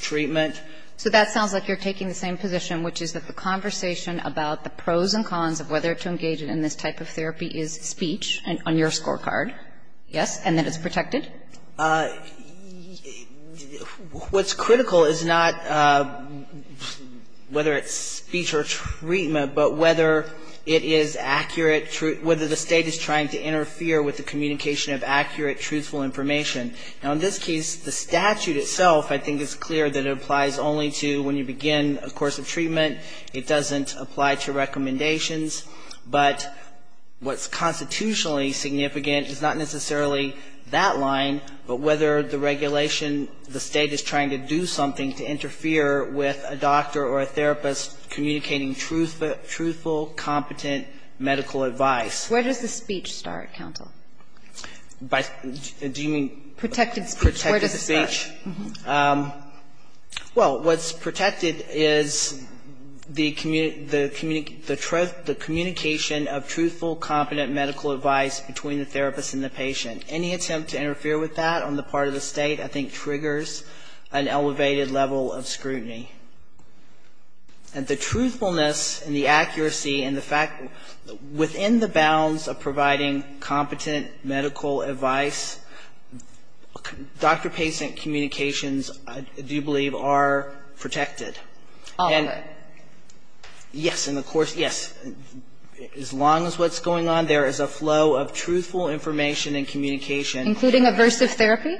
treatment. So that sounds like you're taking the same position, which is that the conversation about the pros and cons of whether to engage in this type of therapy is speech, on your scorecard, yes, and that it's protected? What's critical is not whether it's speech or treatment, but whether it is accurate whether the State is trying to interfere with the communication of accurate, truthful information. Now, in this case, the statute itself, I think, is clear that it applies only to when you begin a course of treatment. It doesn't apply to recommendations. But what's constitutionally significant is not necessarily that line, but whether the regulation the State is trying to do something to interfere with a Where does the speech start, counsel? Do you mean? Protected speech. Protected speech. Where does it start? Well, what's protected is the communication of truthful, competent medical advice between the therapist and the patient. Any attempt to interfere with that on the part of the State, I think, triggers an elevated level of scrutiny. And the truthfulness and the accuracy and the fact within the bounds of providing competent medical advice, doctor-patient communications, I do believe, are protected. All of it. Yes. And, of course, yes, as long as what's going on there is a flow of truthful information and communication. Including aversive therapy?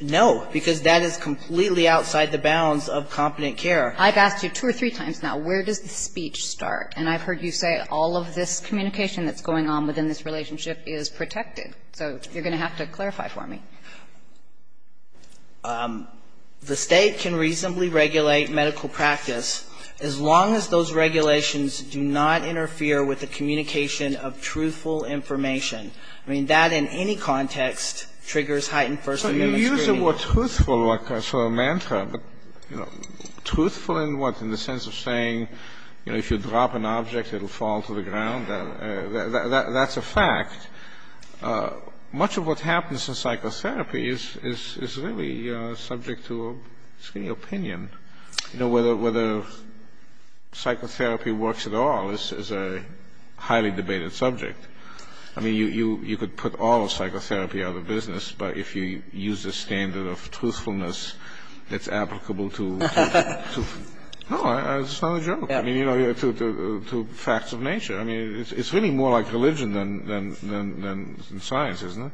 No. Because that is completely outside the bounds of competent care. I've asked you two or three times now, where does the speech start? And I've heard you say all of this communication that's going on within this relationship is protected. So you're going to have to clarify for me. The State can reasonably regulate medical practice as long as those regulations do not interfere with the communication of truthful information. I mean, that in any context triggers heightened first-amendment scrutiny. So you use a more truthful sort of mantra, but truthful in what, in the sense of saying, you know, if you drop an object, it will fall to the ground? That's a fact. Much of what happens in psychotherapy is really subject to screening opinion. You know, whether psychotherapy works at all is a highly debated subject. I mean, you could put all of psychotherapy out of business, but if you use a standard of truthfulness that's applicable to facts of nature, I mean, it's really more like religion than science, isn't it?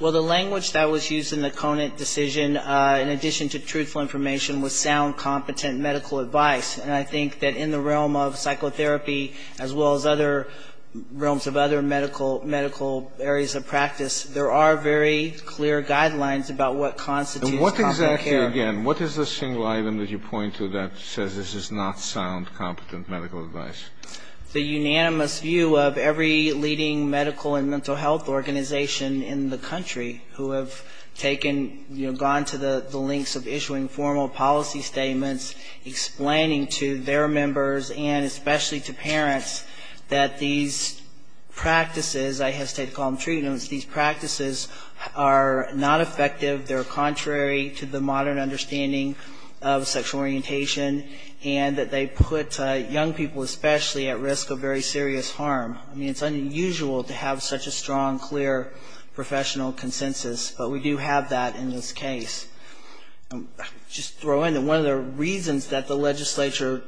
Well, the language that was used in the Conant decision, in addition to truthful information, was sound, competent medical advice. And I think that in the realm of psychotherapy, as well as other realms of other medical areas of practice, there are very clear guidelines about what constitutes competent care. And what exactly, again, what is the single item that you point to that says this is not sound, competent medical advice? The unanimous view of every leading medical and mental health organization in the country who have taken, you know, gone to the lengths of issuing formal policy statements, explaining to their members and especially to parents that these practices, I hesitate to call them treatments, these practices are not effective. They're contrary to the modern understanding of sexual orientation, and that they put young people especially at risk of very serious harm. I mean, it's unusual to have such a strong, clear professional consensus, but we do have that in this case. I'll just throw in that one of the reasons that the legislature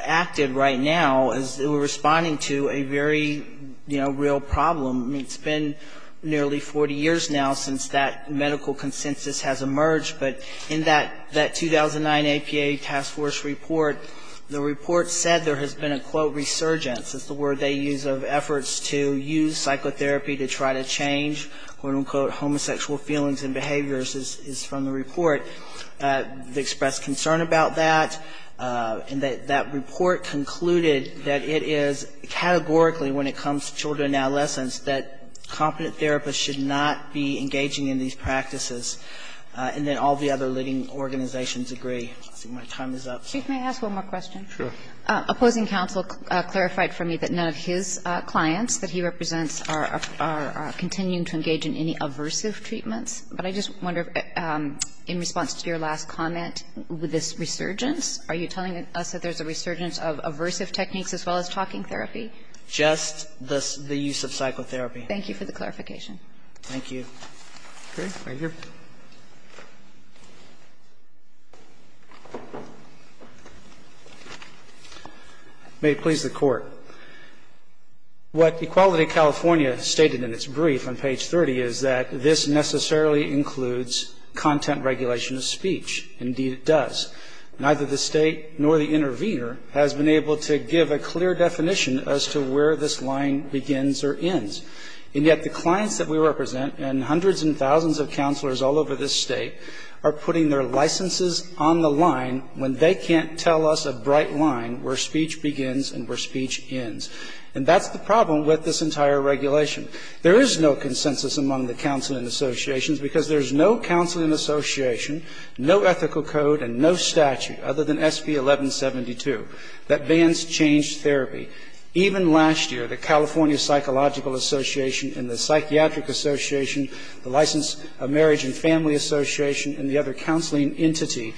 acted right now is they were responding to a very, you know, real problem. I mean, it's been nearly 40 years now since that medical consensus has emerged, but in that 2009 APA task force report, the report said there has been a, quote, resurgence. It's the word they use of efforts to use psychotherapy to try to change, quote, quote, homosexual feelings and behaviors is from the report. They expressed concern about that, and that that report concluded that it is categorically when it comes to children and adolescents that competent therapists should not be engaging in these practices, and that all the other leading organizations agree. Let's see, my time is up. Kagan. Opposing counsel clarified for me that none of his clients that he represents are continuing to engage in any aversive treatments, but I just wonder, in response to your last comment with this resurgence, are you telling us that there's a resurgence of aversive techniques as well as talking therapy? Just the use of psychotherapy. Thank you for the clarification. Thank you. Okay. Thank you. May it please the Court. What Equality California stated in its brief on page 30 is that this necessarily includes content regulation of speech. Indeed, it does. Neither the State nor the intervener has been able to give a clear definition as to where this line begins or ends. And yet the clients that we represent, and hundreds and thousands of counselors all over this State, are putting their licenses on the line when they can't tell us a bright line where speech begins and where speech ends. And that's the problem with this entire regulation. There is no consensus among the counseling associations because there's no counseling association, no ethical code, and no statute other than SB 1172 that bans changed therapy. Even last year, the California Psychological Association and the Psychiatric Association, the Licensed Marriage and Family Association, and the other counseling entity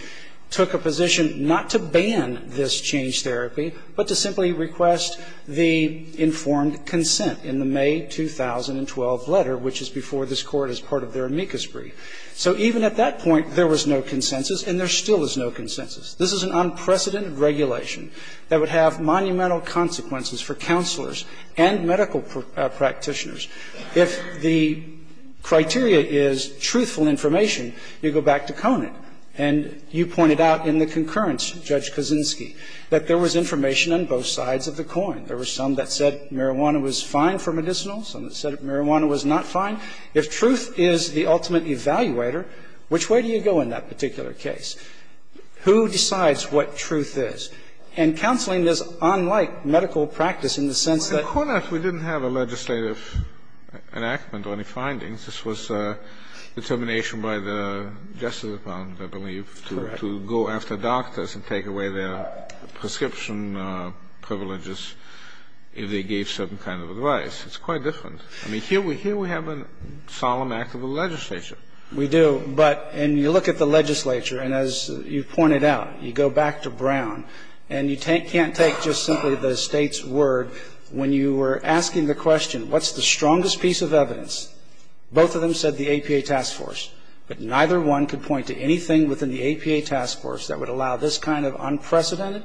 took a position not to ban this changed therapy, but to simply request the informed consent in the May 2012 letter, which is before this Court as part of their amicus brief. So even at that point, there was no consensus, and there still is no consensus. This is an unprecedented regulation that would have monumental consequences for counselors and medical practitioners. If the criteria is truthful information, you go back to Conant, and you pointed out in the concurrence, Judge Kaczynski, that there was information on both sides of the coin. There were some that said marijuana was fine for medicinals, some that said marijuana was not fine. If truth is the ultimate evaluator, which way do you go in that particular case? Who decides what truth is? And counseling is unlike medical practice in the sense that ---- Well, in Conant, we didn't have a legislative enactment or any findings. This was determination by the Justice Department, I believe, to go after doctors and take away their prescription privileges if they gave certain kind of advice. It's quite different. I mean, here we have a solemn act of the legislature. We do. But you look at the legislature, and as you pointed out, you go back to Brown, and you can't take just simply the State's word. When you were asking the question, what's the strongest piece of evidence, both of them said the APA task force. But neither one could point to anything within the APA task force that would allow this kind of unprecedented,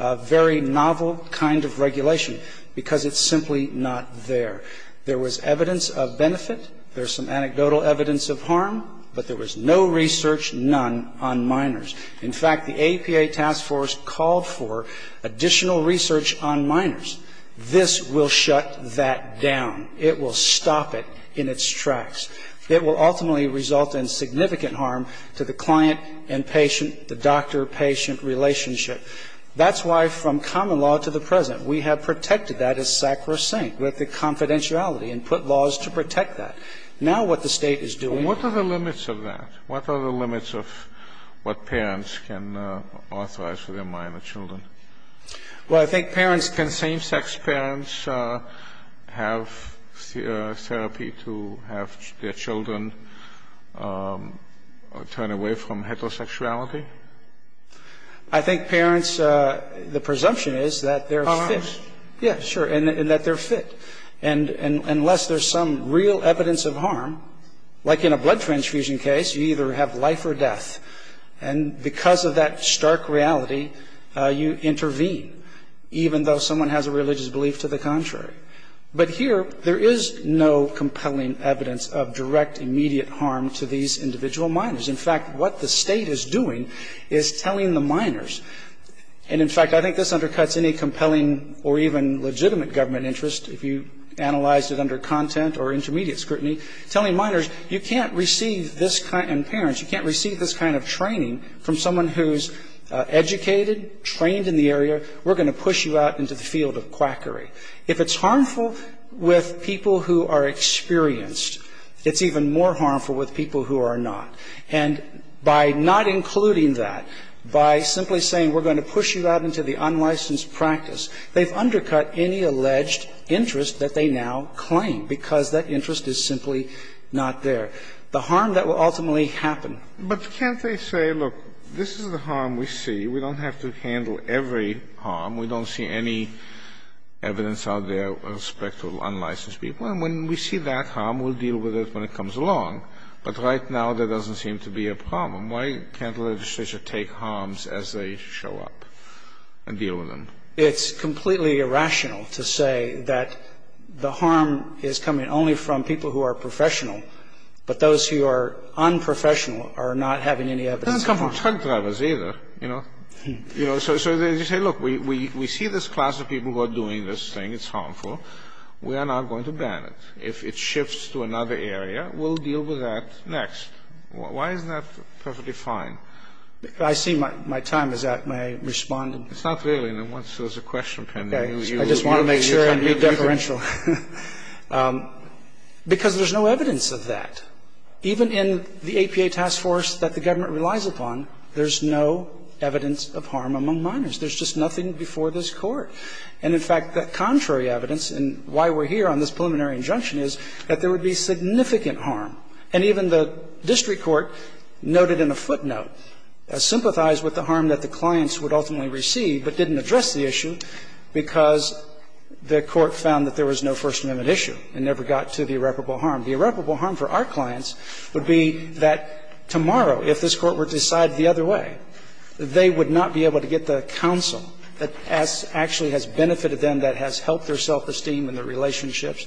very novel kind of regulation, because it's simply not there. There was evidence of benefit. There's some anecdotal evidence of harm. But there was no research, none, on minors. In fact, the APA task force called for additional research on minors. This will shut that down. It will stop it in its tracks. It will ultimately result in significant harm to the client and patient, the doctor-patient relationship. That's why from common law to the present, we have protected that as sacrosanct with the confidentiality and put laws to protect that. Now what the State is doing to protect that. And what are the limits of that? What are the limits of what parents can authorize for their minor children? Well, I think parents can same-sex parents have therapy to have their children turn away from heterosexuality? I think parents, the presumption is that they're fit. Yeah, sure, and that they're fit. And unless there's some real evidence of harm, like in a blood transfusion case, you either have life or death. And because of that stark reality, you intervene, even though someone has a religious belief to the contrary. But here, there is no compelling evidence of direct, immediate harm to these individual minors. In fact, what the State is doing is telling the minors. And in fact, I think this undercuts any compelling or even legitimate government interest if you analyzed it under content or intermediate scrutiny, telling minors, you can't receive this kind of, and parents, you can't receive this kind of training from someone who's educated, trained in the area. We're going to push you out into the field of quackery. If it's harmful with people who are experienced, it's even more harmful with people who are not. And by not including that, by simply saying we're going to push you out into the unlicensed practice, they've undercut any alleged interest that they now claim, because that interest is simply not there. The harm that will ultimately happen. But can't they say, look, this is the harm we see. We don't have to handle every harm. We don't see any evidence out there with respect to unlicensed people. And when we see that harm, we'll deal with it when it comes along. But right now, there doesn't seem to be a problem. Why can't the legislature take harms as they show up and deal with them? It's completely irrational to say that the harm is coming only from people who are professional, but those who are unprofessional are not having any evidence. It doesn't come from truck drivers either, you know. You know, so they say, look, we see this class of people who are doing this thing. It's harmful. We are not going to ban it. If it shifts to another area, we'll deal with that next. Why isn't that perfectly fine? I see my time is up. May I respond? It's not really. Once there's a question pending, you can be deferential. I just want to make sure I'm deferential. Because there's no evidence of that. Even in the APA task force that the government relies upon, there's no evidence of harm among minors. There's just nothing before this Court. And in fact, the contrary evidence, and why we're here on this preliminary injunction, is that there would be significant harm. And even the district court noted in a footnote, sympathized with the harm that the clients would ultimately receive, but didn't address the issue because the court found that there was no First Amendment issue and never got to the irreparable harm. The irreparable harm for our clients would be that tomorrow, if this Court were to decide the other way, they would not be able to get the counsel that actually has benefited them, that has helped their self-esteem and their relationships.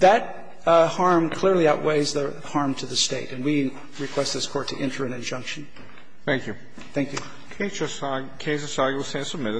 That harm clearly outweighs the harm to the State. And we request this Court to enter an injunction. Thank you. Thank you.